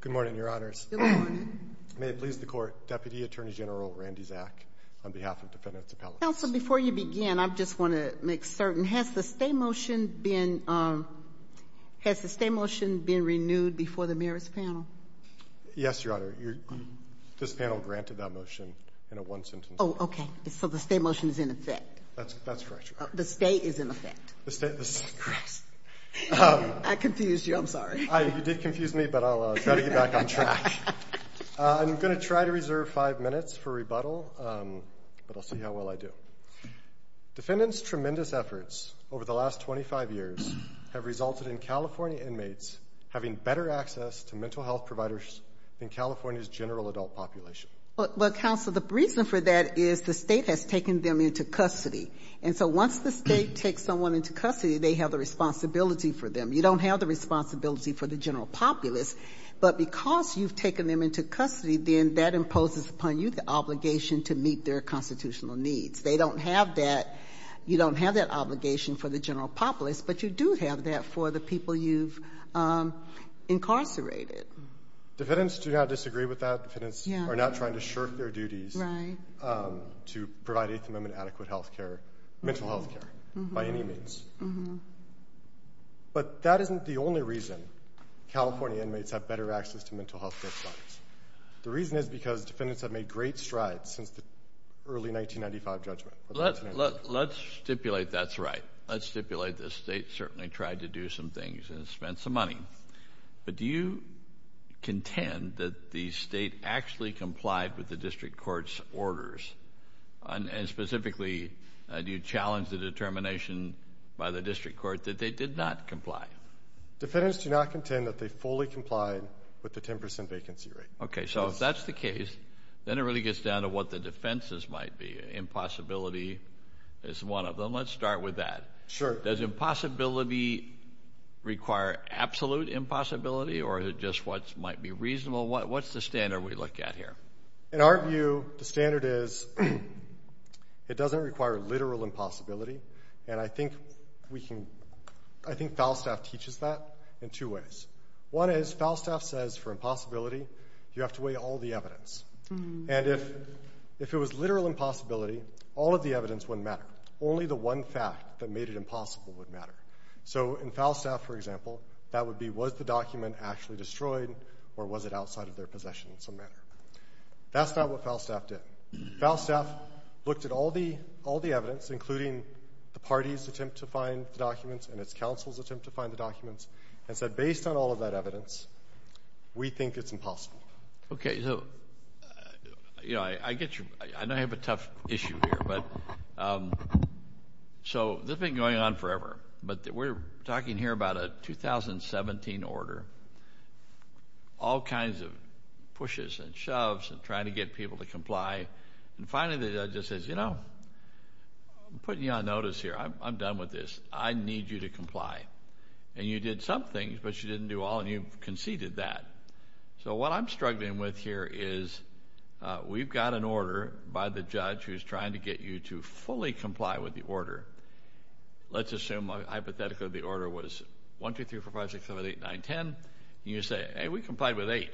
Good morning, Your Honors. Good morning. May it please the Court, Deputy Attorney General Randy Zak, on behalf of Defendants Appellate. Counsel, before you begin, I just want to make certain, has the stay motion been renewed before the Mayor's panel? Yes, Your Honor. This panel granted that motion in a one sentence. Oh, okay. So the stay motion is in effect. That's correct, Your Honor. The stay is in effect. I confused you, I'm sorry. You did confuse me, but I'll try to get back on track. I'm going to try to reserve five minutes for rebuttal, but I'll see how well I do. Defendants' tremendous efforts over the last 25 years have resulted in California inmates having better access to mental health providers than California's general adult population. Well, Counsel, the reason for that is the state has taken them into custody. And so once the state takes someone into custody, they have the responsibility for them. You don't have the responsibility for the general populace, but because you've taken them into custody, then that imposes upon you the obligation to meet their constitutional needs. They don't have that. You don't have that obligation for the general populace, but you do have that for the people you've incarcerated. Defendants do not disagree with that. Defendants are not trying to shirk their duties to provide Eighth Amendment adequate health care, mental health care, by any means. But that isn't the only reason California inmates have better access to mental health care providers. The reason is because defendants have made great strides since the early 1995 judgment. Let's stipulate that's right. Let's stipulate the state certainly tried to do some things and spent some money. But do you contend that the state actually complied with the district court's orders? And specifically, do you challenge the determination by the district court that they did not comply? Defendants do not contend that they fully complied with the 10 percent vacancy rate. Okay, so if that's the case, then it really gets down to what the defenses might be. Impossibility is one of them. Let's start with that. Sure. Does impossibility require absolute impossibility, or is it just what might be reasonable? What's the standard we look at here? In our view, the standard is it doesn't require literal impossibility, and I think Falstaff teaches that in two ways. One is Falstaff says for impossibility you have to weigh all the evidence. And if it was literal impossibility, all of the evidence wouldn't matter. Only the one fact that made it impossible would matter. So in Falstaff, for example, that would be was the document actually destroyed or was it outside of their possession in some manner. That's not what Falstaff did. Falstaff looked at all the evidence, including the party's attempt to find the documents and its counsel's attempt to find the documents, and said based on all of that evidence, we think it's impossible. Okay, so I know I have a tough issue here, but so this has been going on forever, but we're talking here about a 2017 order, all kinds of pushes and shoves and trying to get people to comply. And finally the judge says, you know, I'm putting you on notice here. I'm done with this. I need you to comply. And you did some things, but you didn't do all, and you conceded that. So what I'm struggling with here is we've got an order by the judge who's trying to get you to fully comply with the order. Let's assume hypothetically the order was 1, 2, 3, 4, 5, 6, 7, 8, 9, 10, and you say, hey, we complied with 8.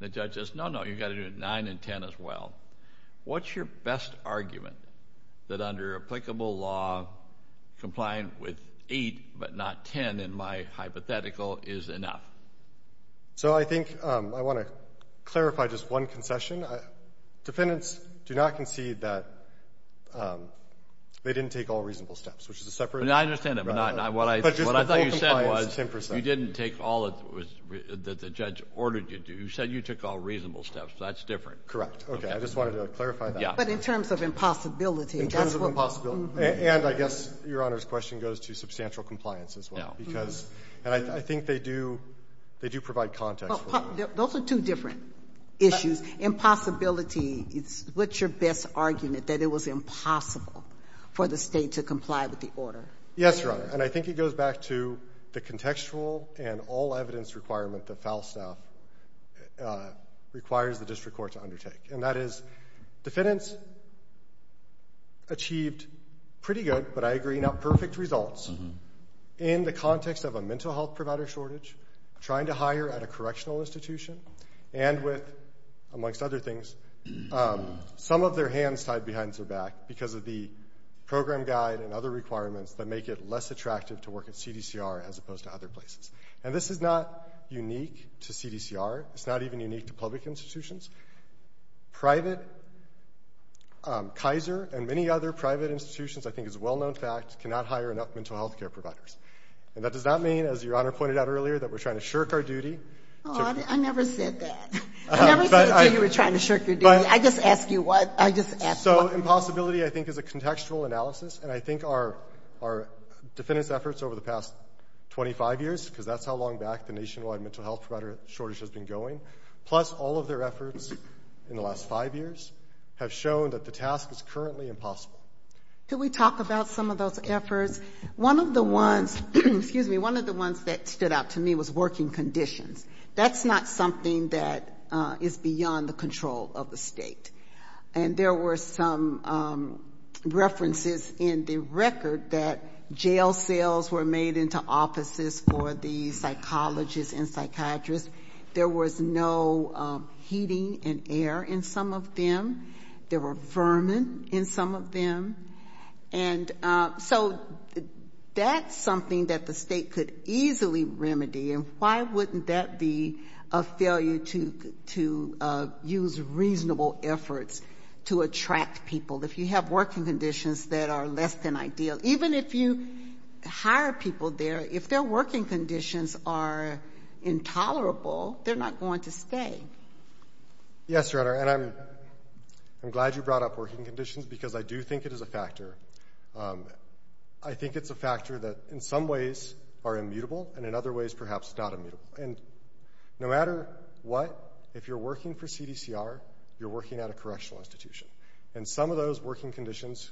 The judge says, no, no, you've got to do 9 and 10 as well. What's your best argument that under applicable law, complying with 8 but not 10 in my hypothetical is enough? So I think I want to clarify just one concession. Defendants do not concede that they didn't take all reasonable steps, which is a separate. I understand that. But what I thought you said was you didn't take all that the judge ordered you to. You said you took all reasonable steps. That's different. Correct. Okay. I just wanted to clarify that. But in terms of impossibility. In terms of impossibility. And I guess Your Honor's question goes to substantial compliance as well. Yeah. Because I think they do provide context. Those are two different issues. Impossibility, what's your best argument, that it was impossible for the state to comply with the order? Yes, Your Honor. And I think it goes back to the contextual and all evidence requirement that FALSTAFF requires the district court to undertake. And that is defendants achieved pretty good, but I agree, not perfect results in the context of a mental health provider shortage, trying to hire at a correctional institution, and with, amongst other things, some of their hands tied behind their back because of the program guide and other requirements that make it less attractive to work at CDCR as opposed to other places. And this is not unique to CDCR. It's not even unique to public institutions. Private, Kaiser and many other private institutions, I think is a well-known fact, cannot hire enough mental health care providers. And that does not mean, as Your Honor pointed out earlier, that we're trying to shirk our duty. I never said that. I never said you were trying to shirk your duty. I just asked you what. So impossibility, I think, is a contextual analysis, and I think our defendants' efforts over the past 25 years, because that's how long back the nationwide mental health provider shortage has been going, plus all of their efforts in the last five years, have shown that the task is currently impossible. Can we talk about some of those efforts? One of the ones that stood out to me was working conditions. That's not something that is beyond the control of the state. And there were some references in the record that jail cells were made into offices for the psychologists and psychiatrists. There was no heating and air in some of them. There were vermin in some of them. And so that's something that the state could easily remedy, and why wouldn't that be a failure to use reasonable efforts to attract people? If you have working conditions that are less than ideal, even if you hire people there, if their working conditions are intolerable, they're not going to stay. Yes, Your Honor, and I'm glad you brought up working conditions because I do think it is a factor. I think it's a factor that in some ways are immutable and in other ways perhaps not immutable. And no matter what, if you're working for CDCR, you're working at a correctional institution. And some of those working conditions,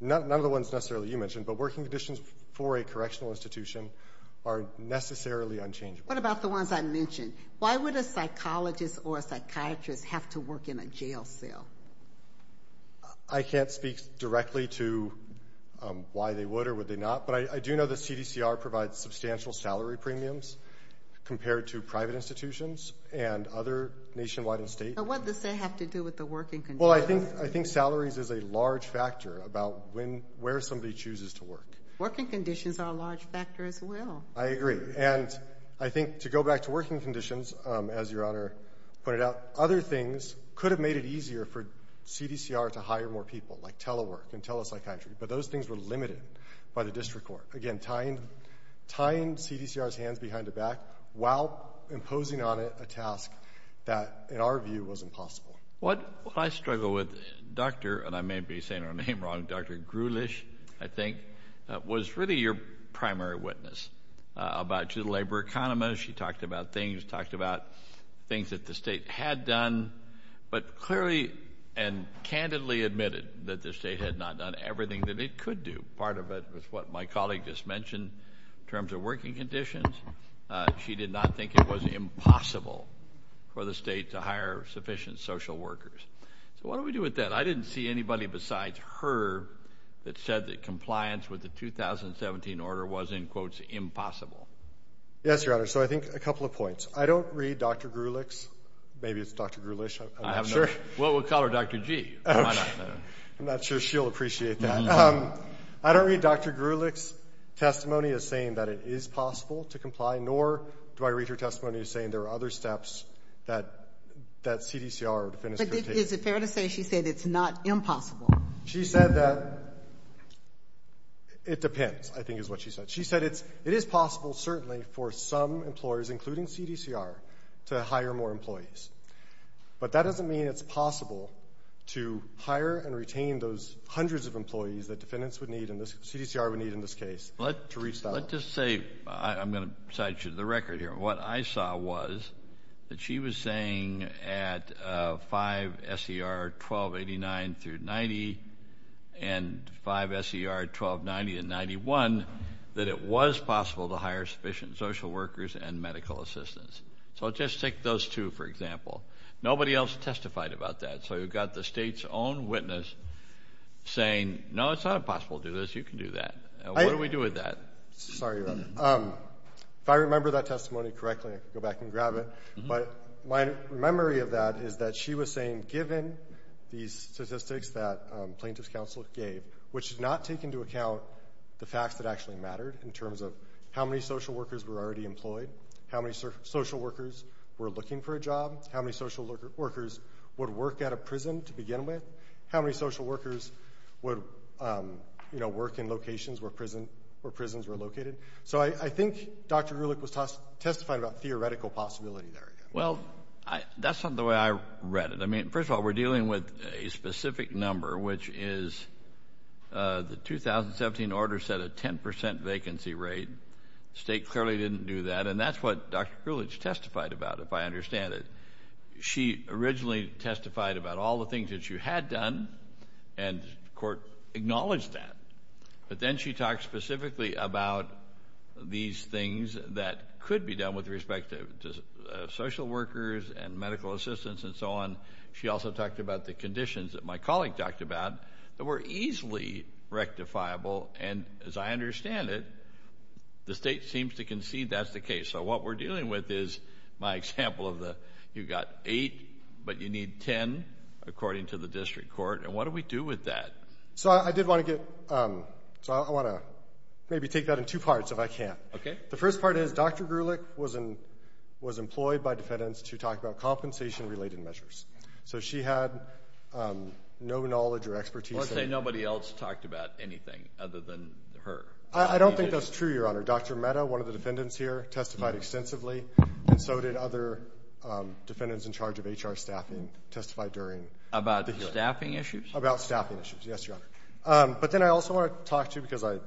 none of the ones necessarily you mentioned, but working conditions for a correctional institution are necessarily unchangeable. What about the ones I mentioned? Why would a psychologist or a psychiatrist have to work in a jail cell? I can't speak directly to why they would or would they not, but I do know that CDCR provides substantial salary premiums compared to private institutions and other nationwide and state. What does that have to do with the working conditions? Well, I think salaries is a large factor about where somebody chooses to work. Working conditions are a large factor as well. I agree. And I think to go back to working conditions, as Your Honor pointed out, other things could have made it easier for CDCR to hire more people, like telework and telepsychiatry. But those things were limited by the district court. Again, tying CDCR's hands behind the back while imposing on it a task that in our view was impossible. What I struggle with, Doctor, and I may be saying her name wrong, Dr. Grulich, I think, was really your primary witness. About to the labor economist, she talked about things, talked about things that the state had done, but clearly and candidly admitted that the state had not done everything that it could do. Part of it was what my colleague just mentioned in terms of working conditions. She did not think it was impossible for the state to hire sufficient social workers. So what do we do with that? Because I didn't see anybody besides her that said that compliance with the 2017 order was, in quotes, impossible. Yes, Your Honor. So I think a couple of points. I don't read Dr. Grulich's, maybe it's Dr. Grulich, I'm not sure. Well, we'll call her Dr. G. I'm not sure she'll appreciate that. I don't read Dr. Grulich's testimony as saying that it is possible to comply, nor do I read her testimony as saying there are other steps that CDCR or defendants could take. But is it fair to say she said it's not impossible? She said that it depends, I think is what she said. She said it is possible, certainly, for some employers, including CDCR, to hire more employees. But that doesn't mean it's possible to hire and retain those hundreds of employees that defendants would need and CDCR would need in this case. Let's just say, I'm going to cite you to the record here, what I saw was that she was saying at 5 S.E.R. 1289-90 and 5 S.E.R. 1290-91 that it was possible to hire sufficient social workers and medical assistants. So just take those two, for example. Nobody else testified about that. So you've got the state's own witness saying, no, it's not impossible to do this, you can do that. What do we do with that? Sorry, Your Honor. If I remember that testimony correctly, I can go back and grab it. But my memory of that is that she was saying, given these statistics that plaintiff's counsel gave, which does not take into account the facts that actually mattered in terms of how many social workers were already employed, how many social workers were looking for a job, how many social workers would work at a prison to begin with, how many social workers would work in locations where prisons were located. So I think Dr. Gruelich testified about theoretical possibility there. Well, that's not the way I read it. I mean, first of all, we're dealing with a specific number, which is the 2017 order said a 10% vacancy rate. The state clearly didn't do that. And that's what Dr. Gruelich testified about, if I understand it. She originally testified about all the things that she had done, and the court acknowledged that. But then she talked specifically about these things that could be done with respect to social workers and medical assistants and so on. She also talked about the conditions that my colleague talked about that were easily rectifiable. And as I understand it, the state seems to concede that's the case. So what we're dealing with is my example of the you've got eight, but you need 10, according to the district court. And what do we do with that? So I want to maybe take that in two parts, if I can. Okay. The first part is Dr. Gruelich was employed by defendants to talk about compensation-related measures. So she had no knowledge or expertise. Let's say nobody else talked about anything other than her. I don't think that's true, Your Honor. Dr. Mehta, one of the defendants here, testified extensively, and so did other defendants in charge of HR staffing, testified during. About staffing issues? About staffing issues, yes, Your Honor. But then I also want to talk to you, because I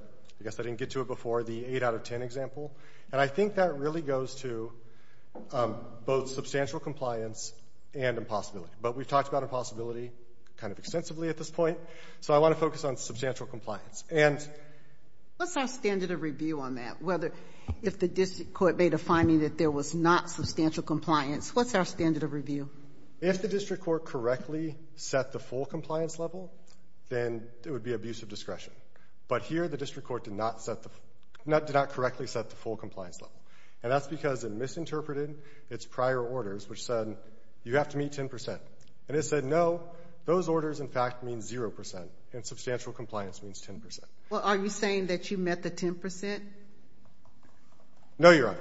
guess I didn't get to it before, the 8 out of 10 example. And I think that really goes to both substantial compliance and impossibility. But we've talked about impossibility kind of extensively at this point. So I want to focus on substantial compliance. And what's our standard of review on that? If the district court made a finding that there was not substantial compliance, what's our standard of review? If the district court correctly set the full compliance level, then it would be abuse of discretion. But here the district court did not correctly set the full compliance level. And that's because it misinterpreted its prior orders, which said you have to meet 10%. And it said, no, those orders, in fact, mean 0%, and substantial compliance means 10%. Well, are you saying that you met the 10%? No, Your Honor.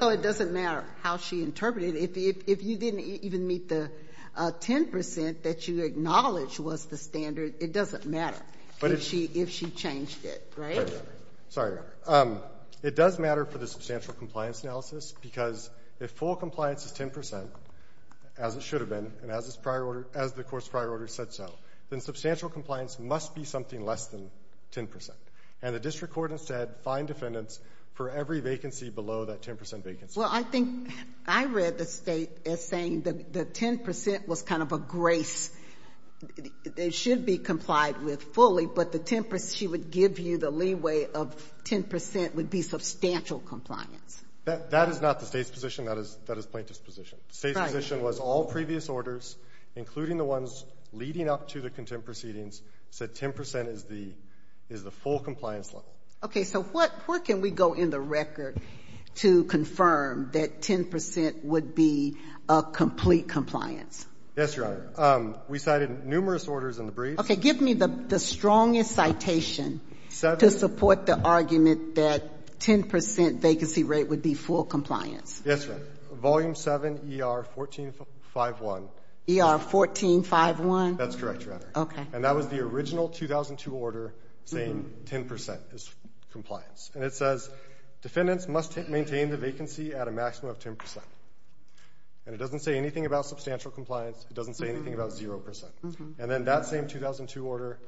Well, it doesn't matter how she interpreted it. If you didn't even meet the 10% that you acknowledged was the standard, it doesn't matter if she changed it, right? Right, Your Honor. Sorry. It does matter for the substantial compliance analysis because if full compliance is 10%, as it should have been, and as the court's prior order said so, then substantial compliance must be something less than 10%. And the district court has said, find defendants for every vacancy below that 10% vacancy. Well, I think I read the state as saying the 10% was kind of a grace. It should be complied with fully, but she would give you the leeway of 10% would be substantial compliance. That is not the state's position. That is plaintiff's position. The state's position was all previous orders, including the ones leading up to the contempt proceedings, said 10% is the full compliance level. Okay. So where can we go in the record to confirm that 10% would be a complete compliance? Yes, Your Honor. We cited numerous orders in the brief. Okay. Give me the strongest citation to support the argument that 10% vacancy rate would be full compliance. Yes, Your Honor. Volume 7 ER 1451. ER 1451? That's correct, Your Honor. Okay. And that was the original 2002 order saying 10% is compliance. And it says defendants must maintain the vacancy at a maximum of 10%. And it doesn't say anything about substantial compliance. It doesn't say anything about 0%. And then that same 2002 order,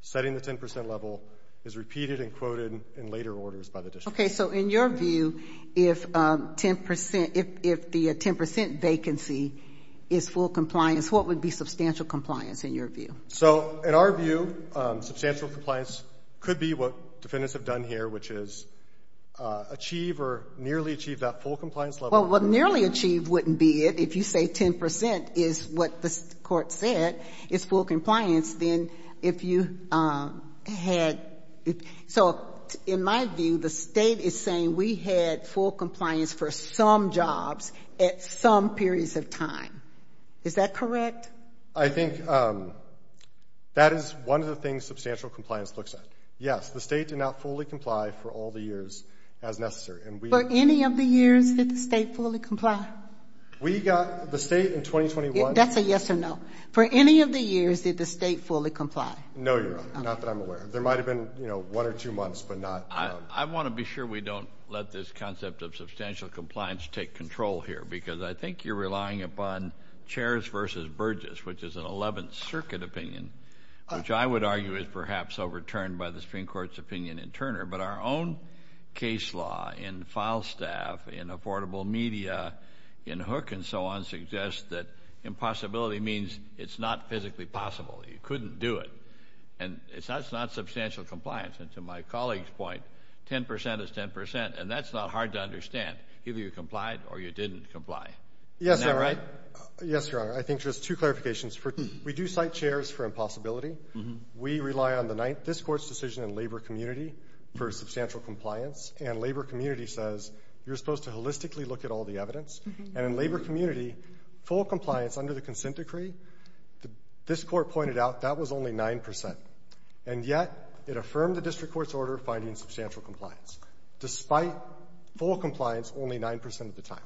setting the 10% level, is repeated and quoted in later orders by the district. Okay. So in your view, if the 10% vacancy is full compliance, what would be substantial compliance in your view? So in our view, substantial compliance could be what defendants have done here, which is achieve or nearly achieve that full compliance level. Well, what nearly achieve wouldn't be it. If you say 10% is what the court said is full compliance, then if you had – so in my view, the State is saying we had full compliance for some jobs at some periods of time. Is that correct? I think that is one of the things substantial compliance looks at. Yes, the State did not fully comply for all the years as necessary. For any of the years did the State fully comply? We got – the State in 2021 – That's a yes or no. For any of the years did the State fully comply? No, Your Honor. Not that I'm aware of. There might have been, you know, one or two months, but not – I want to be sure we don't let this concept of substantial compliance take control here because I think you're relying upon Chairs v. Burgess, which is an 11th Circuit opinion, which I would argue is perhaps overturned by the Supreme Court's opinion in Turner. But our own case law in file staff, in affordable media, in Hook and so on suggests that impossibility means it's not physically possible. You couldn't do it. And it's not substantial compliance. And to my colleague's point, 10% is 10%, and that's not hard to understand. Either you complied or you didn't comply. Isn't that right? Yes, Your Honor. I think there's two clarifications. We do cite Chairs for impossibility. We rely on this Court's decision in labor community for substantial compliance. And labor community says you're supposed to holistically look at all the evidence. And in labor community, full compliance under the consent decree, this Court pointed out that was only 9%. And yet it affirmed the district court's order of finding substantial compliance. Despite full compliance, only 9% of the time.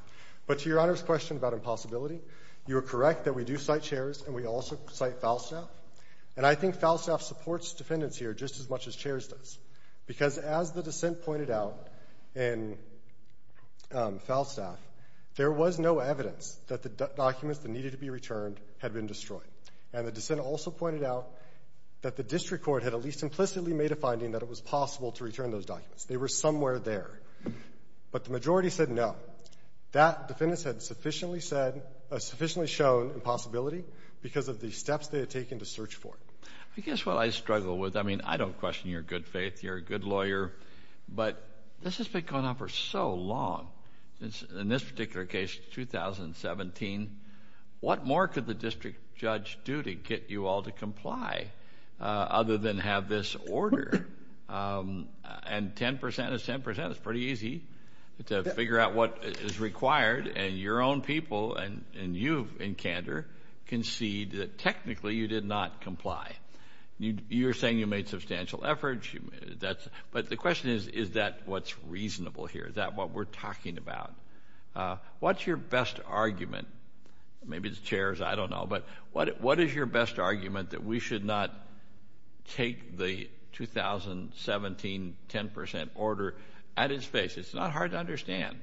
But to Your Honor's question about impossibility, you are correct that we do cite Chairs and we also cite file staff. And I think file staff supports defendants here just as much as Chairs does. Because as the dissent pointed out in file staff, there was no evidence that the documents that needed to be returned had been destroyed. And the dissent also pointed out that the district court had at least implicitly made a finding that it was possible to return those documents. They were somewhere there. But the majority said no. That defendants had sufficiently said, sufficiently shown impossibility because of the steps they had taken to search for it. I guess what I struggle with, I mean, I don't question your good faith. You're a good lawyer. But this has been going on for so long. In this particular case, 2017, what more could the district judge do to get you all to comply other than have this order and 10% is 10%, it's pretty easy to figure out what is required and your own people and you in candor concede that technically you did not comply. You're saying you made substantial efforts. But the question is, is that what's reasonable here? Is that what we're talking about? What's your best argument? Maybe it's Chairs, I don't know. But what is your best argument that we should not take the 2017 10% order at its face? It's not hard to understand.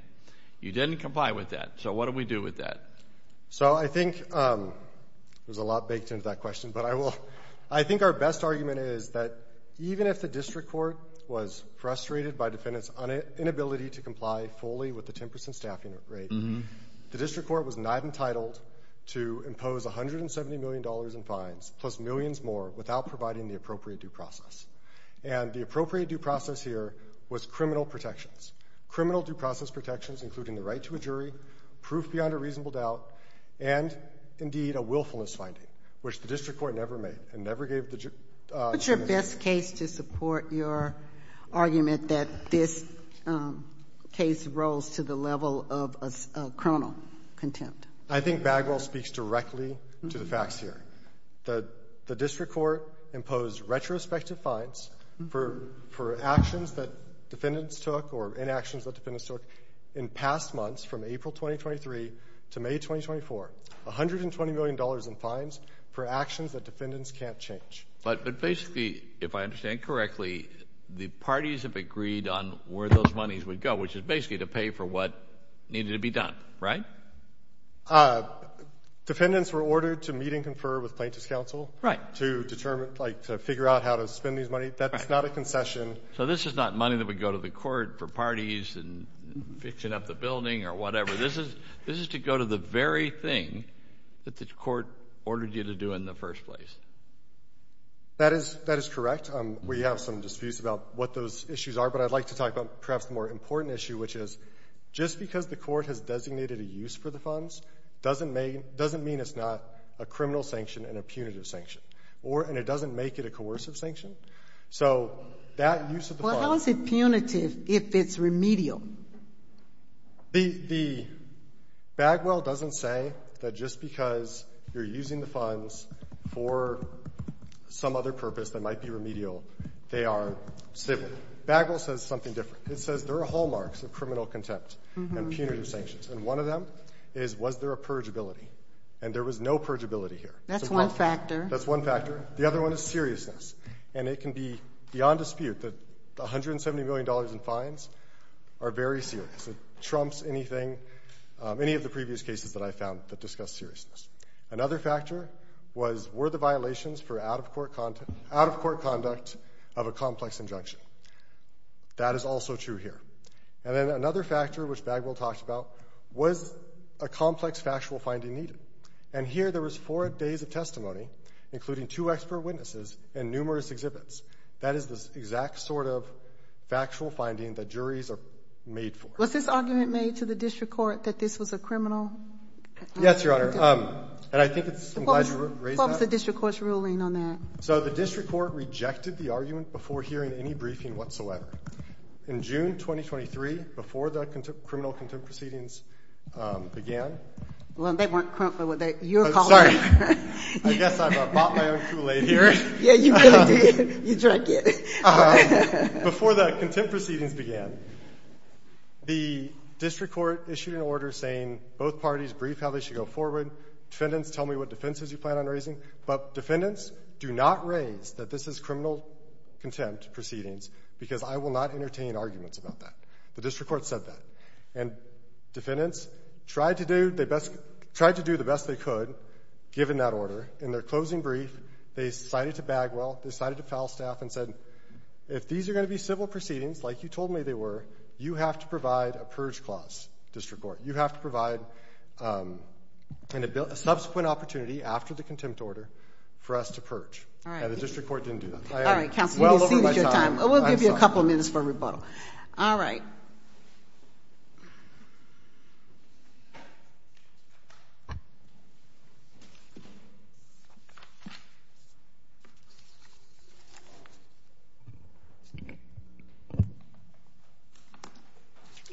You didn't comply with that. So what do we do with that? So I think there's a lot baked into that question. But I think our best argument is that even if the district court was frustrated by defendants' inability to comply fully with the 10% staffing rate, the district court was not entitled to impose $170 million in fines plus millions more without providing the appropriate due process. And the appropriate due process here was criminal protections, criminal due process protections including the right to a jury, proof beyond a reasonable doubt, and indeed a willfulness finding, which the district court never made and never gave the jury. What's your best case to support your argument that this case rose to the level of a criminal contempt? I think Bagwell speaks directly to the facts here. The district court imposed retrospective fines for actions that defendants took or inactions that defendants took in past months from April 2023 to May 2024, $120 million in fines for actions that defendants can't change. But basically, if I understand correctly, the parties have agreed on where those monies would go, which is basically to pay for what needed to be done, right? Defendants were ordered to meet and confer with plaintiff's counsel to determine, like to figure out how to spend these money. That's not a concession. So this is not money that would go to the court for parties and fixing up the building or whatever. This is to go to the very thing that the court ordered you to do in the first place. That is correct. We have some disputes about what those issues are, but I'd like to talk about perhaps a more important issue, which is just because the court has designated a use for the funds doesn't mean it's not a criminal sanction and a punitive sanction, and it doesn't make it a coercive sanction. So that use of the funds— How is it punitive if it's remedial? The Bagwell doesn't say that just because you're using the funds for some other purpose that might be remedial, they are civil. Bagwell says something different. It says there are hallmarks of criminal contempt and punitive sanctions, and one of them is was there a purgeability, and there was no purgeability here. That's one factor. That's one factor. The other one is seriousness, and it can be beyond dispute that $170 million in fines are very serious. It trumps anything, any of the previous cases that I've found that discuss seriousness. Another factor was were the violations for out-of-court conduct of a complex injunction. That is also true here. And then another factor, which Bagwell talked about, was a complex factual finding needed, and here there was four days of testimony, including two expert witnesses and numerous exhibits. That is the exact sort of factual finding that juries are made for. Was this argument made to the district court that this was a criminal? Yes, Your Honor, and I think it's— What was the district court's ruling on that? So the district court rejected the argument before hearing any briefing whatsoever. In June 2023, before the criminal contempt proceedings began— Well, they weren't crumpled with that. I'm sorry. I guess I bought my own Kool-Aid here. Yeah, you did. You drank it. Before the contempt proceedings began, the district court issued an order saying both parties brief how they should go forward. Defendants, tell me what defenses you plan on raising. But defendants, do not raise that this is criminal contempt proceedings because I will not entertain arguments about that. The district court said that. And defendants tried to do the best they could, given that order. In their closing brief, they cited to Bagwell, they cited to Falstaff and said, if these are going to be civil proceedings like you told me they were, you have to provide a purge clause, district court. You have to provide a subsequent opportunity after the contempt order for us to purge. And the district court didn't do that. All right, counsel. You've exceeded your time. We'll give you a couple minutes for rebuttal. All right.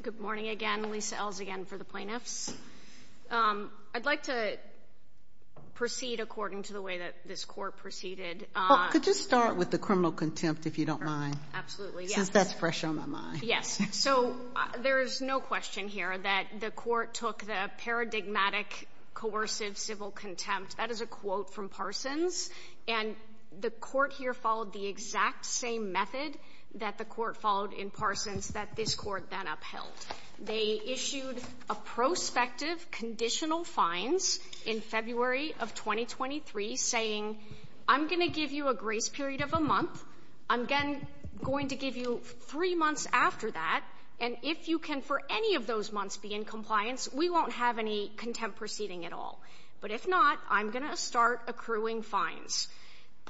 Good morning again. Lisa Ells again for the plaintiffs. I'd like to proceed according to the way that this court proceeded. Could you start with the criminal contempt, if you don't mind? Absolutely, yes. That's fresh on my mind. So there is no question here that the court took the paradigmatic coercive civil contempt. That is a quote from Parsons. And the court here followed the exact same method that the court followed in Parsons that this court then upheld. They issued a prospective conditional fines in February of 2023 saying, I'm going to give you a grace period of a month. I'm going to give you three months after that. And if you can for any of those months be in compliance, we won't have any contempt proceeding at all. But if not, I'm going to start accruing fines.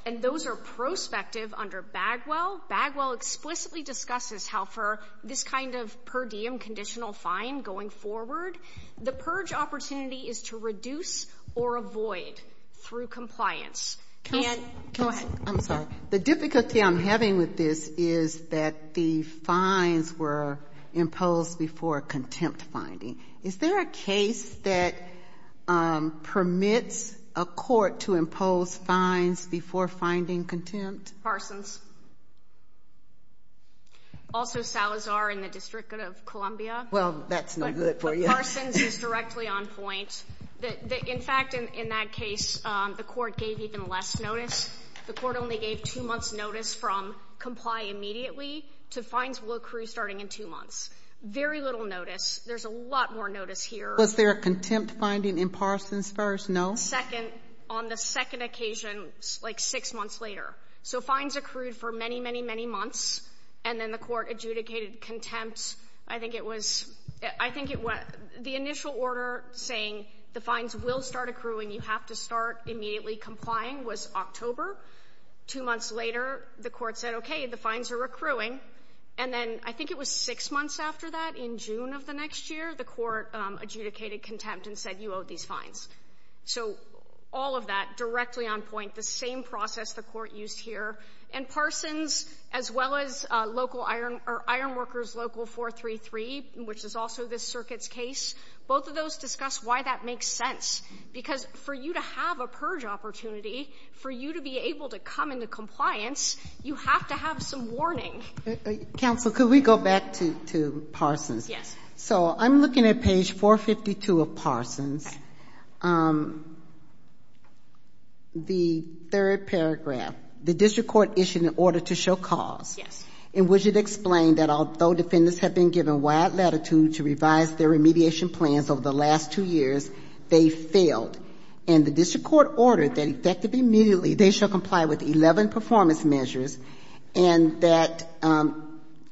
And those are prospective under Bagwell. Bagwell explicitly discusses how for this kind of per diem conditional fine going forward, the purge opportunity is to reduce or avoid through compliance. Go ahead. I'm sorry. The difficulty I'm having with this is that the fines were imposed before contempt finding. Is there a case that permits a court to impose fines before finding contempt? Parsons. Also Salazar in the District of Columbia. Well, that's not good for you. But Parsons is directly on point. In fact, in that case, the court gave even less notice. The court only gave two months notice from comply immediately to fines will accrue starting in two months. Very little notice. There's a lot more notice here. Was there a contempt finding in Parsons first? No. Second, on the second occasion, like six months later. So fines accrued for many, many, many months. And then the court adjudicated contempt. I think it was the initial order saying the fines will start accruing. You have to start immediately complying was October. Two months later, the court said, okay, the fines are accruing. And then I think it was six months after that, in June of the next year, the court adjudicated contempt and said you owe these fines. So all of that directly on point. The same process the court used here. And Parsons, as well as local iron workers, local 433, which is also this circuit's case, both of those discuss why that makes sense. Because for you to have a purge opportunity, for you to be able to come into compliance, you have to have some warning. Counsel, could we go back to Parsons? Yes. So I'm looking at page 452 of Parsons. Yes. The third paragraph. The district court issued an order to show cause. Yes. In which it explained that although defendants have been given wide latitude to revise their remediation plans over the last two years, they failed. And the district court ordered that effectively immediately they shall comply with 11 performance measures and that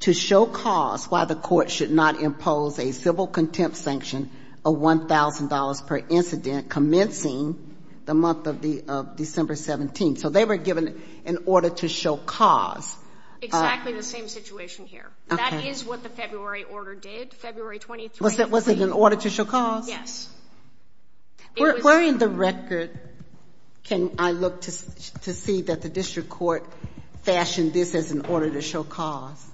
to show cause why the court should not impose a civil contempt sanction of $1,000 per incident commencing the month of December 17th. So they were given an order to show cause. Exactly the same situation here. That is what the February order did, February 23rd. Was it an order to show cause? Yes. Where in the record can I look to see that the district court fashioned this as an order to show cause?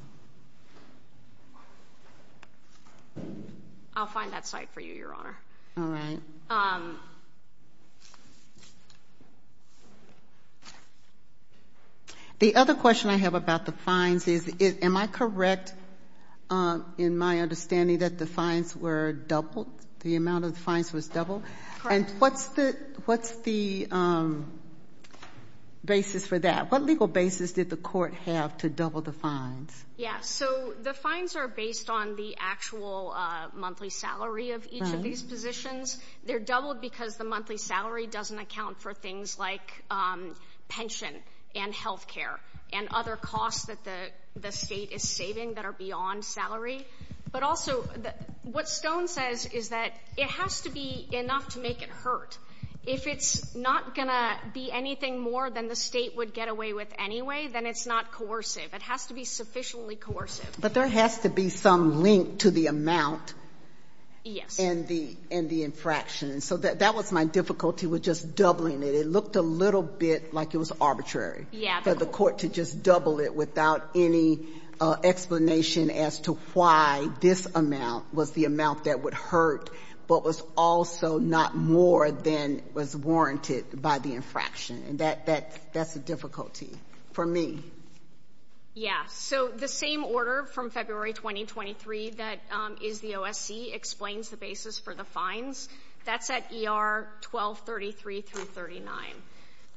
I'll find that site for you, Your Honor. All right. The other question I have about the fines is, am I correct in my understanding that the fines were doubled, the amount of fines was doubled? Correct. And what's the basis for that? What legal basis did the court have to double the fines? Yes. So the fines are based on the actual monthly salary of each of these positions. They're doubled because the monthly salary doesn't account for things like pension and health care and other costs that the state is saving that are beyond salary. But also what Stone says is that it has to be enough to make it hurt. If it's not going to be anything more than the state would get away with anyway, then it's not coercive. It has to be sufficiently coercive. But there has to be some link to the amount. Yes. And the infraction. So that was my difficulty with just doubling it. It looked a little bit like it was arbitrary. Yeah. For the court to just double it without any explanation as to why this amount was the amount that would hurt but was also not more than was warranted by the infraction. And that's a difficulty for me. Yeah. So the same order from February 2023 that is the OSC explains the basis for the fines. That's at ER 1233 through 39.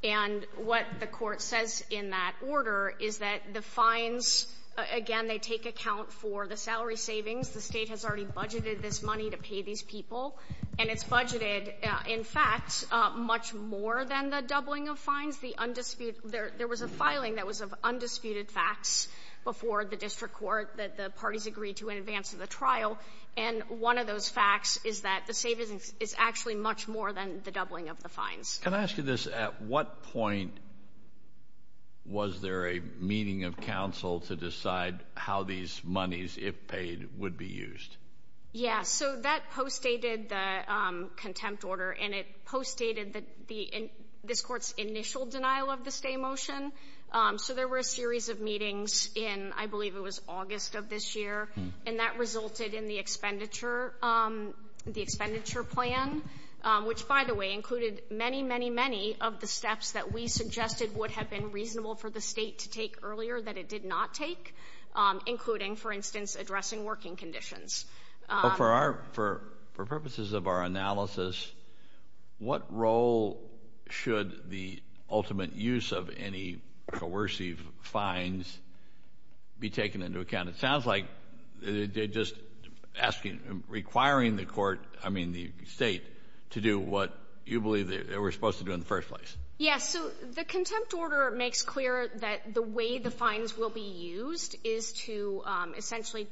And what the court says in that order is that the fines, again, they take account for the salary savings. The state has already budgeted this money to pay these people. And it's budgeted, in fact, much more than the doubling of fines. The undisputed — there was a filing that was of undisputed facts before the district court that the parties agreed to in advance of the trial. And one of those facts is that the savings is actually much more than the doubling of the fines. Can I ask you this? At what point was there a meeting of counsel to decide how these monies, if paid, would be used? Yeah. So that postdated the contempt order, and it postdated this court's initial denial of the stay motion. So there were a series of meetings in, I believe it was August of this year. And that resulted in the expenditure plan, which, by the way, included many, many, many of the steps that we suggested would have been reasonable for the state to take earlier that it did not take, including, for instance, addressing working conditions. For purposes of our analysis, what role should the ultimate use of any coercive fines be taken into account? It sounds like they're just asking, requiring the court, I mean the state, to do what you believe they were supposed to do in the first place. Yes. So the contempt order makes clear that the way the fines will be used is to essentially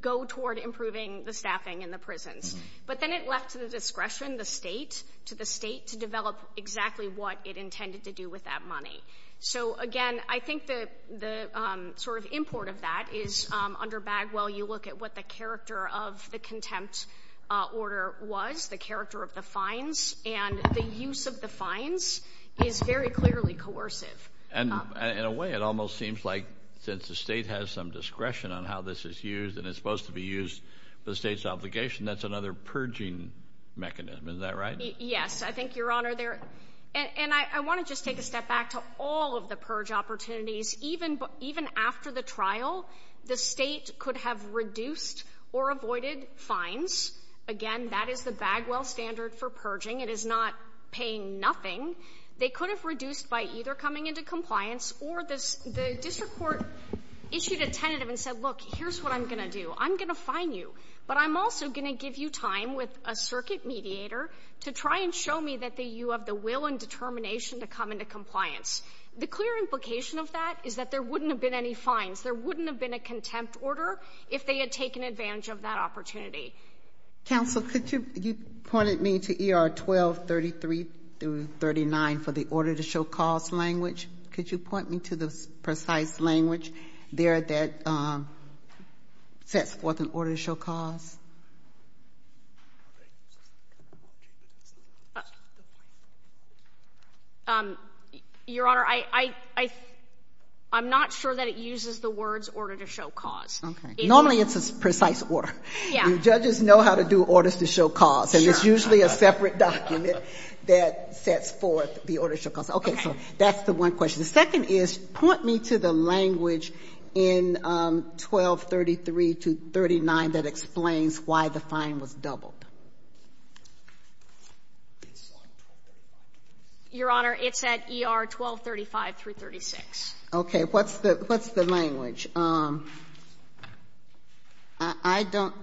go toward improving the staffing in the prisons. But then it left to the discretion, the state, to the state to develop exactly what it intended to do with that money. So, again, I think the sort of import of that is under Bagwell you look at what the character of the contempt order was, the character of the fines, and the use of the fines is very clearly coercive. And in a way, it almost seems like since the state has some discretion on how this is used and it's supposed to be used for the state's obligation, that's another purging mechanism. Is that right? Yes. I think, Your Honor, and I want to just take a step back to all of the purge opportunities. Even after the trial, the state could have reduced or avoided fines. Again, that is the Bagwell standard for purging. It is not paying nothing. They could have reduced by either coming into compliance or the district court issued a tentative and said, look, here's what I'm going to do. I'm going to fine you. But I'm also going to give you time with a circuit mediator to try and show me that you have the will and determination to come into compliance. The clear implication of that is that there wouldn't have been any fines. There wouldn't have been a contempt order if they had taken advantage of that opportunity. Counsel, could you point me to ER 1233-39 for the order to show cause language? Could you point me to the precise language there that sets forth an order to show cause? Your Honor, I'm not sure that it uses the words order to show cause. Okay. Normally it's a precise order. Yeah. Judges know how to do orders to show cause. And it's usually a separate document that sets forth the order to show cause. Okay. So that's the one question. The second is, point me to the language in 1233-39 that explains why the fine was doubled. Your Honor, it's at ER 1235-36. Okay. What's the language? I don't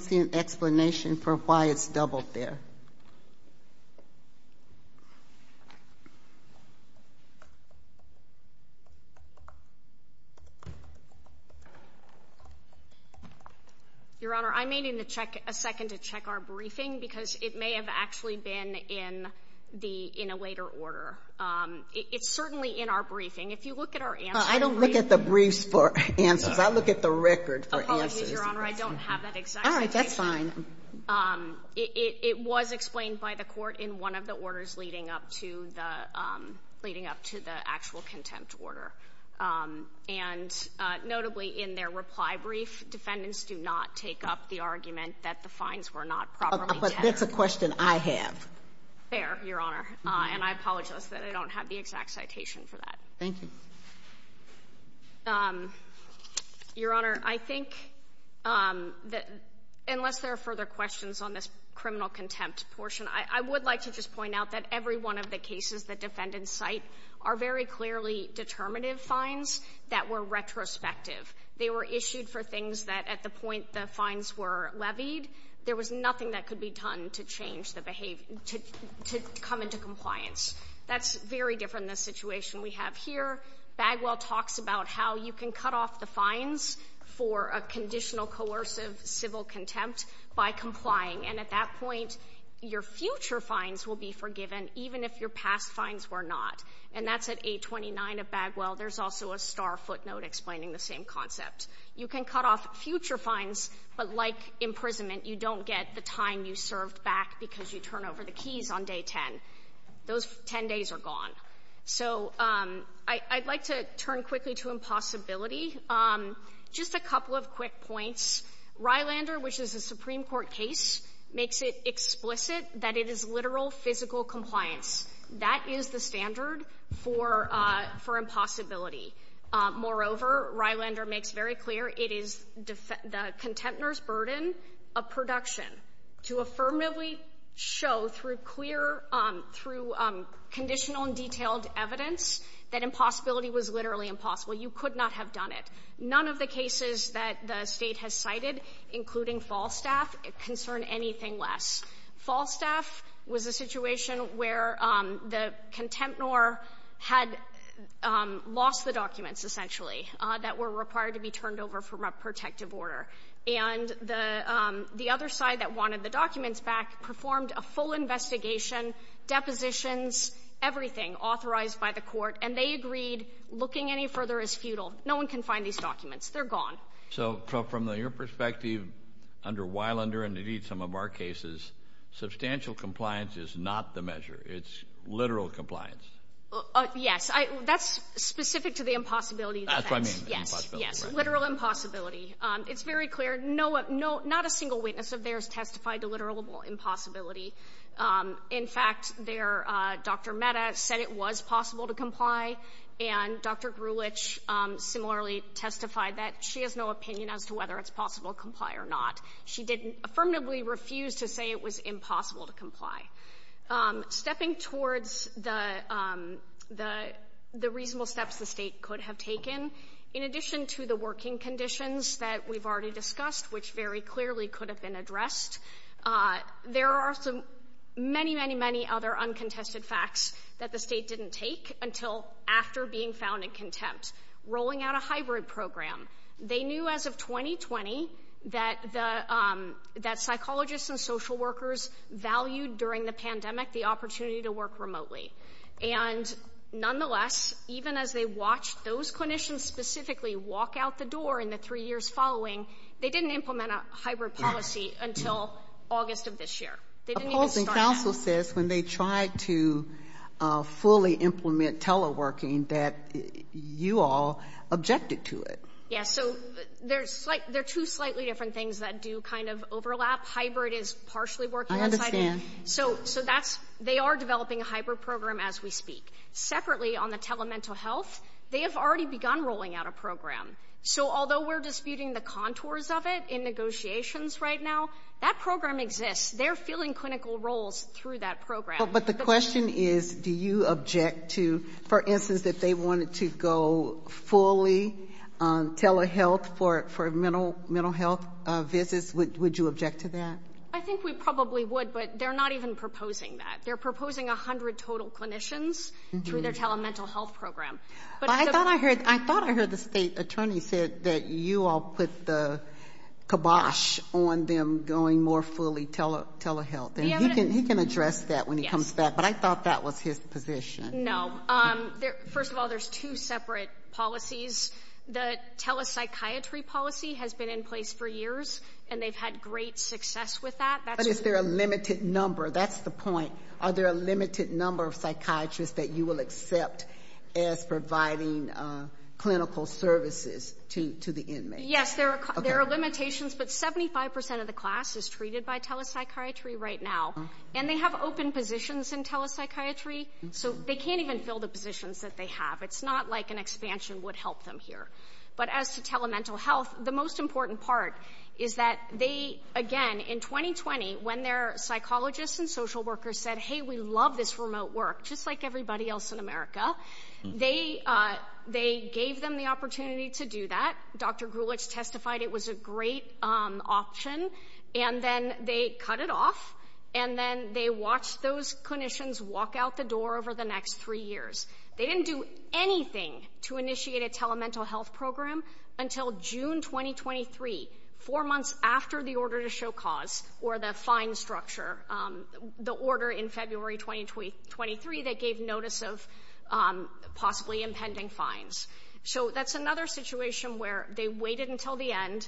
see an explanation for why it's doubled there. Your Honor, I may need to check a second to check our briefing because it may have actually been in a later order. It's certainly in our briefing. If you look at our answer in briefing. I don't look at the briefs for answers. I look at the record for answers. Apologies, Your Honor. I don't have that exact information. All right. That's fine. It was explained by the court in one of the orders leading up to the actual contempt order. And notably in their reply brief, defendants do not take up the argument that the fines were not properly counted. But that's a question I have. Fair, Your Honor. And I apologize that I don't have the exact citation for that. Thank you. Your Honor, I think that unless there are further questions on this criminal contempt portion, I would like to just point out that every one of the cases the defendants cite are very clearly determinative fines that were retrospective. They were issued for things that at the point the fines were levied, there was nothing that could be done to change the behavior, to come into compliance. That's very different than the situation we have here. Bagwell talks about how you can cut off the fines for a conditional coercive civil contempt by complying. And at that point, your future fines will be forgiven even if your past fines were not. And that's at 829 of Bagwell. There's also a star footnote explaining the same concept. You can cut off future fines, but like imprisonment, you don't get the time you served back because you turn over the keys on day 10. Those 10 days are gone. So I'd like to turn quickly to impossibility. Just a couple of quick points. Rylander, which is a Supreme Court case, makes it explicit that it is literal, physical compliance. That is the standard for impossibility. Moreover, Rylander makes very clear it is the contemptor's burden of production to affirmatively show through clear, through conditional and detailed evidence, that impossibility was literally impossible. You could not have done it. None of the cases that the State has cited, including Falstaff, concern anything less. Falstaff was a situation where the contemptor had lost the documents, essentially, that were required to be turned over from a protective order. And the other side that wanted the documents back performed a full investigation, depositions, everything authorized by the court, and they agreed looking any further is futile. No one can find these documents. They're gone. So from your perspective under Rylander and indeed some of our cases, substantial compliance is not the measure. It's literal compliance. Yes. That's specific to the impossibility defense. That's what I mean, impossibility. Yes, literal impossibility. It's very clear. Not a single witness of theirs testified to literal impossibility. In fact, Dr. Mehta said it was possible to comply, and Dr. Grulich similarly testified that she has no opinion as to whether it's possible to comply or not. She didn't affirmatively refuse to say it was impossible to comply. Stepping towards the reasonable steps the state could have taken, in addition to the working conditions that we've already discussed, which very clearly could have been addressed, there are some many, many, many other uncontested facts that the state didn't take until after being found in contempt. Rolling out a hybrid program. They knew as of 2020 that psychologists and social workers valued during the pandemic the opportunity to work remotely. And nonetheless, even as they watched those clinicians specifically walk out the door in the three years following, they didn't implement a hybrid policy until August of this year. Opposing counsel says when they tried to fully implement teleworking that you all objected to it. Yes, so there are two slightly different things that do kind of overlap. Hybrid is partially working. So they are developing a hybrid program as we speak. Separately, on the telemental health, they have already begun rolling out a program. So although we're disputing the contours of it in negotiations right now, that program exists. They're filling clinical roles through that program. But the question is, do you object to, for instance, that they wanted to go fully telehealth for mental health visits? Would you object to that? I think we probably would, but they're not even proposing that. They're proposing 100 total clinicians through their telemental health program. I thought I heard the state attorney said that you all put the kibosh on them going more fully telehealth. He can address that when he comes back, but I thought that was his position. No. First of all, there's two separate policies. The telepsychiatry policy has been in place for years, and they've had great success with that. But is there a limited number? That's the point. Are there a limited number of psychiatrists that you will accept as providing clinical services to the inmates? Yes, there are limitations, but 75% of the class is treated by telepsychiatry right now, and they have open positions in telepsychiatry, so they can't even fill the positions that they have. It's not like an expansion would help them here. But as to telemental health, the most important part is that they, again, in 2020, when their psychologists and social workers said, hey, we love this remote work, just like everybody else in America, they gave them the opportunity to do that. Dr. Gulich testified it was a great option, and then they cut it off, and then they watched those clinicians walk out the door over the next three years. They didn't do anything to initiate a telemental health program until June 2023, four months after the order to show cause or the fine structure, the order in February 2023 that gave notice of possibly impending fines. So that's another situation where they waited until the end,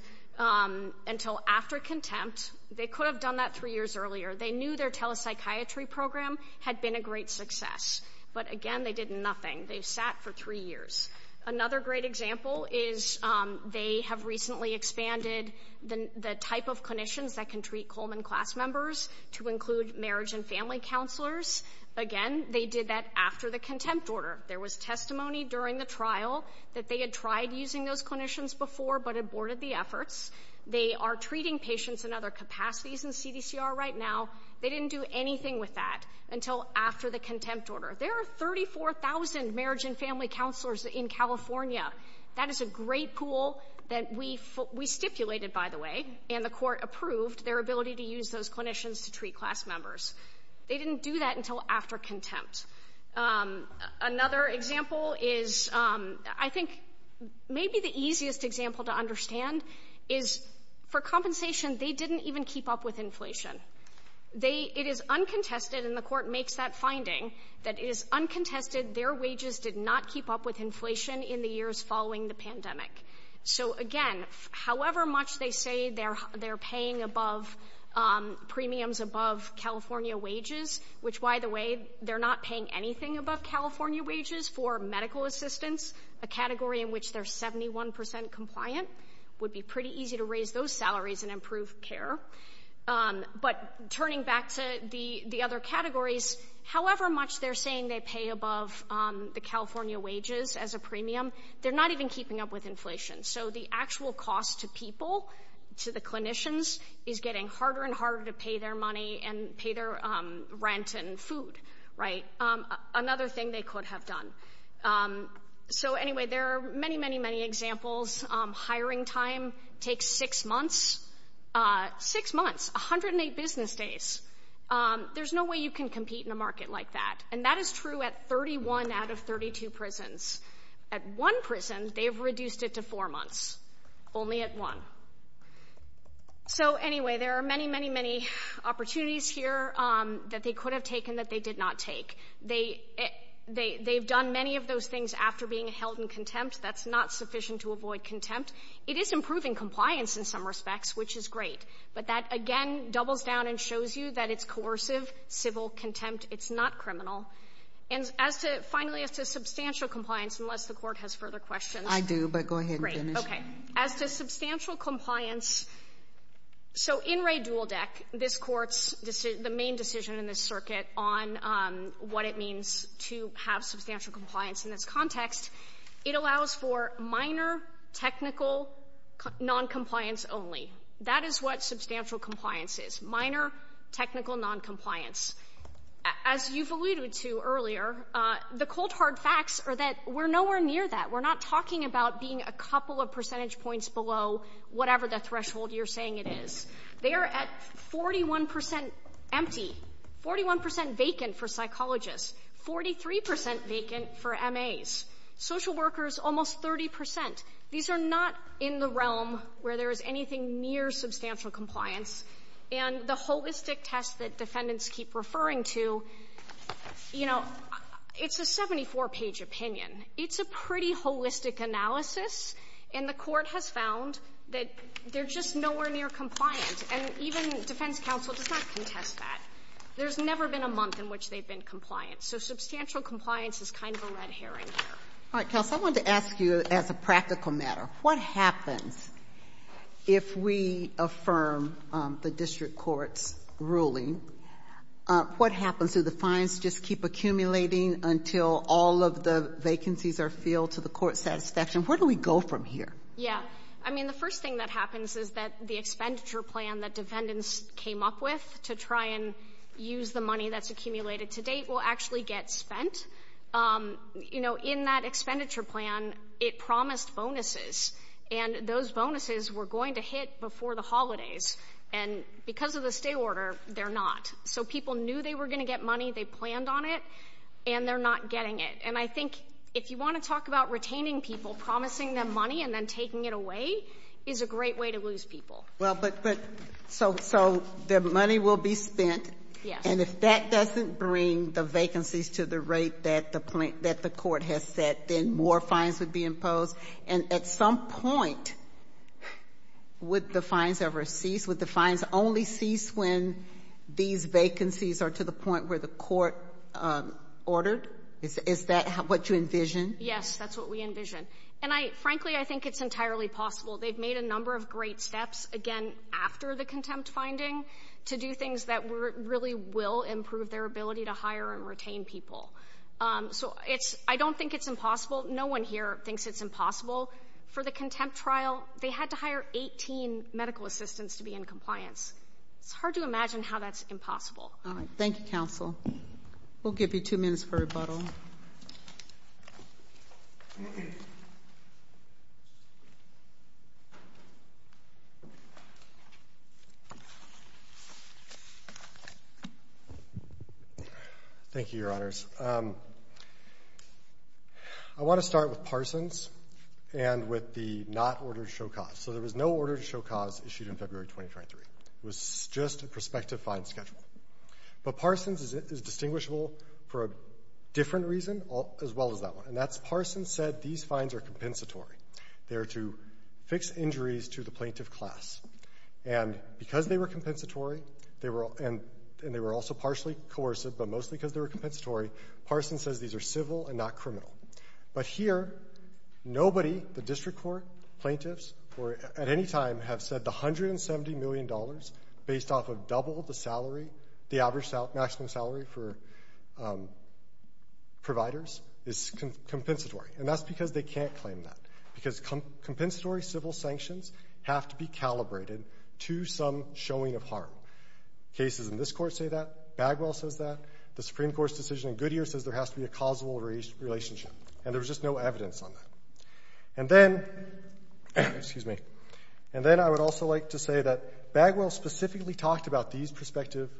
until after contempt. They could have done that three years earlier. They knew their telepsychiatry program had been a great success, but, again, they did nothing. They sat for three years. Another great example is they have recently expanded the type of clinicians that can treat Coleman class members to include marriage and family counselors. Again, they did that after the contempt order. There was testimony during the trial that they had tried using those clinicians before but aborted the efforts. They are treating patients in other capacities in CDCR right now. They didn't do anything with that until after the contempt order. There are 34,000 marriage and family counselors in California. That is a great pool that we stipulated, by the way, and the court approved their ability to use those clinicians to treat class members. They didn't do that until after contempt. Another example is I think maybe the easiest example to understand is for compensation, they didn't even keep up with inflation. It is uncontested, and the court makes that finding, that it is uncontested their wages did not keep up with inflation in the years following the pandemic. So, again, however much they say they're paying above premiums above California wages, which, by the way, they're not paying anything above California wages for medical assistance, a category in which they're 71% compliant, would be pretty easy to raise those salaries and improve care. But turning back to the other categories, however much they're saying they pay above the California wages as a premium, they're not even keeping up with inflation. So the actual cost to people, to the clinicians, is getting harder and harder to pay their money and pay their rent and food, right? Another thing they could have done. So, anyway, there are many, many, many examples. Hiring time takes six months, six months, 108 business days. There's no way you can compete in a market like that, and that is true at 31 out of 32 prisons. At one prison, they've reduced it to four months, only at one. So, anyway, there are many, many, many opportunities here that they could have taken that they did not take. They've done many of those things after being held in contempt. That's not sufficient to avoid contempt. It is improving compliance in some respects, which is great. But that, again, doubles down and shows you that it's coercive, civil contempt. It's not criminal. And as to, finally, as to substantial compliance, unless the Court has further questions. I do, but go ahead and finish. Great, okay. As to substantial compliance, so in Ray Duldeck, this Court's decision, the main decision in this circuit on what it means to have substantial compliance in this context, it allows for minor technical noncompliance only. That is what substantial compliance is, minor technical noncompliance. As you've alluded to earlier, the cold, hard facts are that we're nowhere near that. We're not talking about being a couple of percentage points below whatever the threshold you're saying it is. They are at 41% empty, 41% vacant for psychologists, 43% vacant for MAs, social workers almost 30%. These are not in the realm where there is anything near substantial compliance. And the holistic test that defendants keep referring to, you know, it's a 74-page opinion. It's a pretty holistic analysis, and the Court has found that they're just nowhere near compliant. And even defense counsel does not contest that. There's never been a month in which they've been compliant. So substantial compliance is kind of a red herring here. All right, Kelsey, I wanted to ask you, as a practical matter, what happens if we affirm the district court's ruling? What happens? Do the fines just keep accumulating until all of the vacancies are filled to the court's satisfaction? Where do we go from here? Yeah. I mean, the first thing that happens is that the expenditure plan that defendants came up with to try and use the money that's accumulated to date will actually get spent. You know, in that expenditure plan, it promised bonuses, and those bonuses were going to hit before the holidays. And because of the stay order, they're not. So people knew they were going to get money. They planned on it, and they're not getting it. And I think if you want to talk about retaining people, promising them money, and then taking it away is a great way to lose people. Well, but so the money will be spent. And if that doesn't bring the vacancies to the rate that the court has set, then more fines would be imposed. And at some point, would the fines ever cease? Would the fines only cease when these vacancies are to the point where the court ordered? Is that what you envision? Yes, that's what we envision. And, frankly, I think it's entirely possible. They've made a number of great steps, again, after the contempt finding, to do things that really will improve their ability to hire and retain people. So I don't think it's impossible. No one here thinks it's impossible. For the contempt trial, they had to hire 18 medical assistants to be in compliance. It's hard to imagine how that's impossible. All right. Thank you, counsel. We'll give you two minutes for rebuttal. Thank you, Your Honors. I want to start with Parsons and with the not order to show cause. So there was no order to show cause issued in February 2023. It was just a prospective fine schedule. But Parsons is distinguishable for a different reason as well as that one, and that's Parsons said these fines are compensatory. They are to fix injuries to the plaintiff class. And because they were compensatory, and they were also partially coercive, but mostly because they were compensatory, Parsons says these are civil and not criminal. But here, nobody, the district court, plaintiffs, at any time have said the $170 million based off of double the salary, the average maximum salary for providers is compensatory. And that's because they can't claim that, because compensatory civil sanctions have to be calibrated to some showing of harm. Cases in this court say that. Bagwell says that. The Supreme Court's decision in Goodyear says there has to be a causal relationship. And there was just no evidence on that. And then I would also like to say that Bagwell specifically talked about these prospective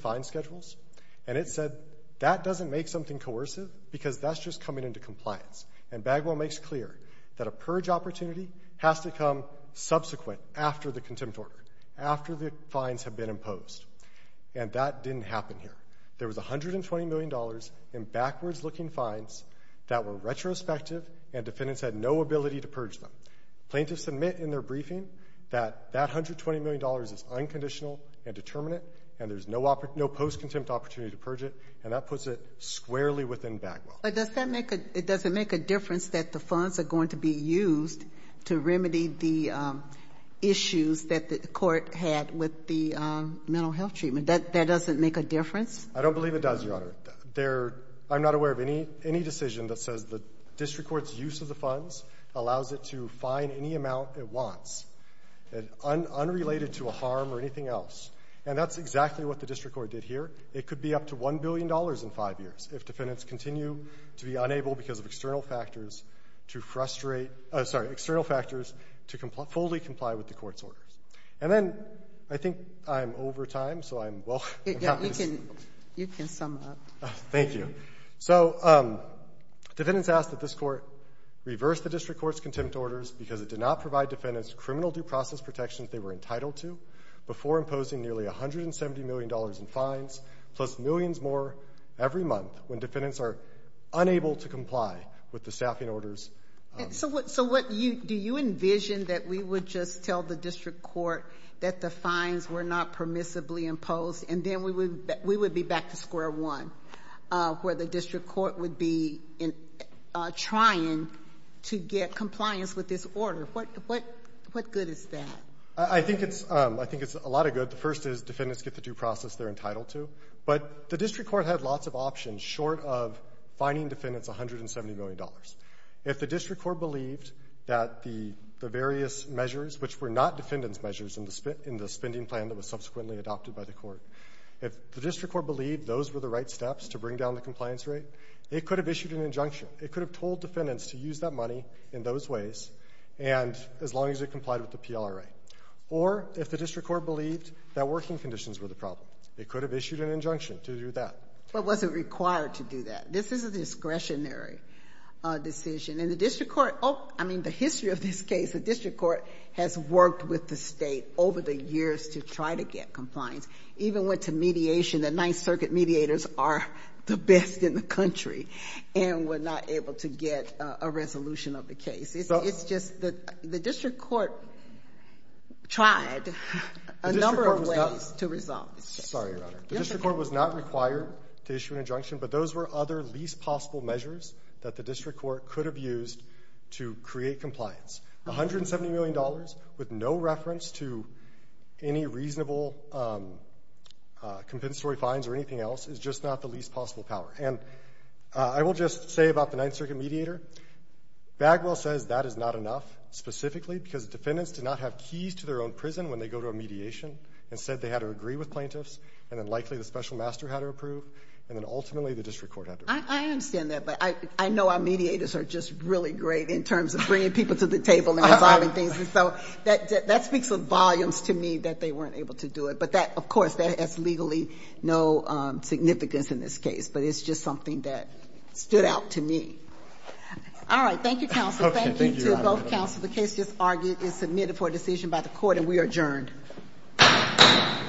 fines schedules, and it said that doesn't make something coercive because that's just coming into compliance. And Bagwell makes clear that a purge opportunity has to come subsequent, after the contempt order, after the fines have been imposed. And that didn't happen here. There was $120 million in backwards-looking fines that were retrospective, and defendants had no ability to purge them. Plaintiffs admit in their briefing that that $120 million is unconditional and determinate, and there's no post-contempt opportunity to purge it. And that puts it squarely within Bagwell. But does that make a difference that the funds are going to be used to remedy the issues that the court had with the mental health treatment? That doesn't make a difference? I don't believe it does, Your Honor. I'm not aware of any decision that says the district court's use of the funds allows it to fine any amount it wants, unrelated to a harm or anything else. And that's exactly what the district court did here. It could be up to $1 billion in five years if defendants continue to be unable, because of external factors, to frustrate — sorry, external factors, to fully comply with the court's orders. And then I think I'm over time, so I'm — Yeah, you can sum up. Thank you. So defendants asked that this court reverse the district court's contempt orders because it did not provide defendants criminal due process protections they were entitled to before imposing nearly $170 million in fines, plus millions more every month, when defendants are unable to comply with the staffing orders. So what — do you envision that we would just tell the district court that the fines were not permissibly imposed, and then we would be back to square one, where the district court would be trying to get compliance with this order? What good is that? I think it's a lot of good. The first is defendants get the due process they're entitled to. But the district court had lots of options short of fining defendants $170 million. If the district court believed that the various measures, which were not defendants' measures in the spending plan that was subsequently adopted by the court, if the district court believed those were the right steps to bring down the compliance rate, it could have issued an injunction. It could have told defendants to use that money in those ways as long as it complied with the PLRA. Or if the district court believed that working conditions were the problem, it could have issued an injunction to do that. But was it required to do that? This is a discretionary decision. And the district court — oh, I mean, the history of this case, the district court has worked with the state over the years to try to get compliance, even went to mediation. The Ninth Circuit mediators are the best in the country and were not able to get a resolution of the case. It's just the district court tried a number of ways to resolve this case. Sorry, Your Honor. The district court was not required to issue an injunction, but those were other least possible measures that the district court could have used to create compliance. $170 million with no reference to any reasonable compensatory fines or anything else is just not the least possible power. And I will just say about the Ninth Circuit mediator, Bagwell says that is not enough specifically because defendants did not have keys to their own prison when they go to a mediation. Instead, they had to agree with plaintiffs, and then likely the special master had to approve, and then ultimately the district court had to approve. I understand that, but I know our mediators are just really great in terms of bringing people to the table and resolving things. And so that speaks of volumes to me that they weren't able to do it. But that, of course, that has legally no significance in this case, but it's just something that stood out to me. All right. Thank you, counsel. Thank you to both counsel. The case just argued and submitted for a decision by the court, and we are adjourned. All rise.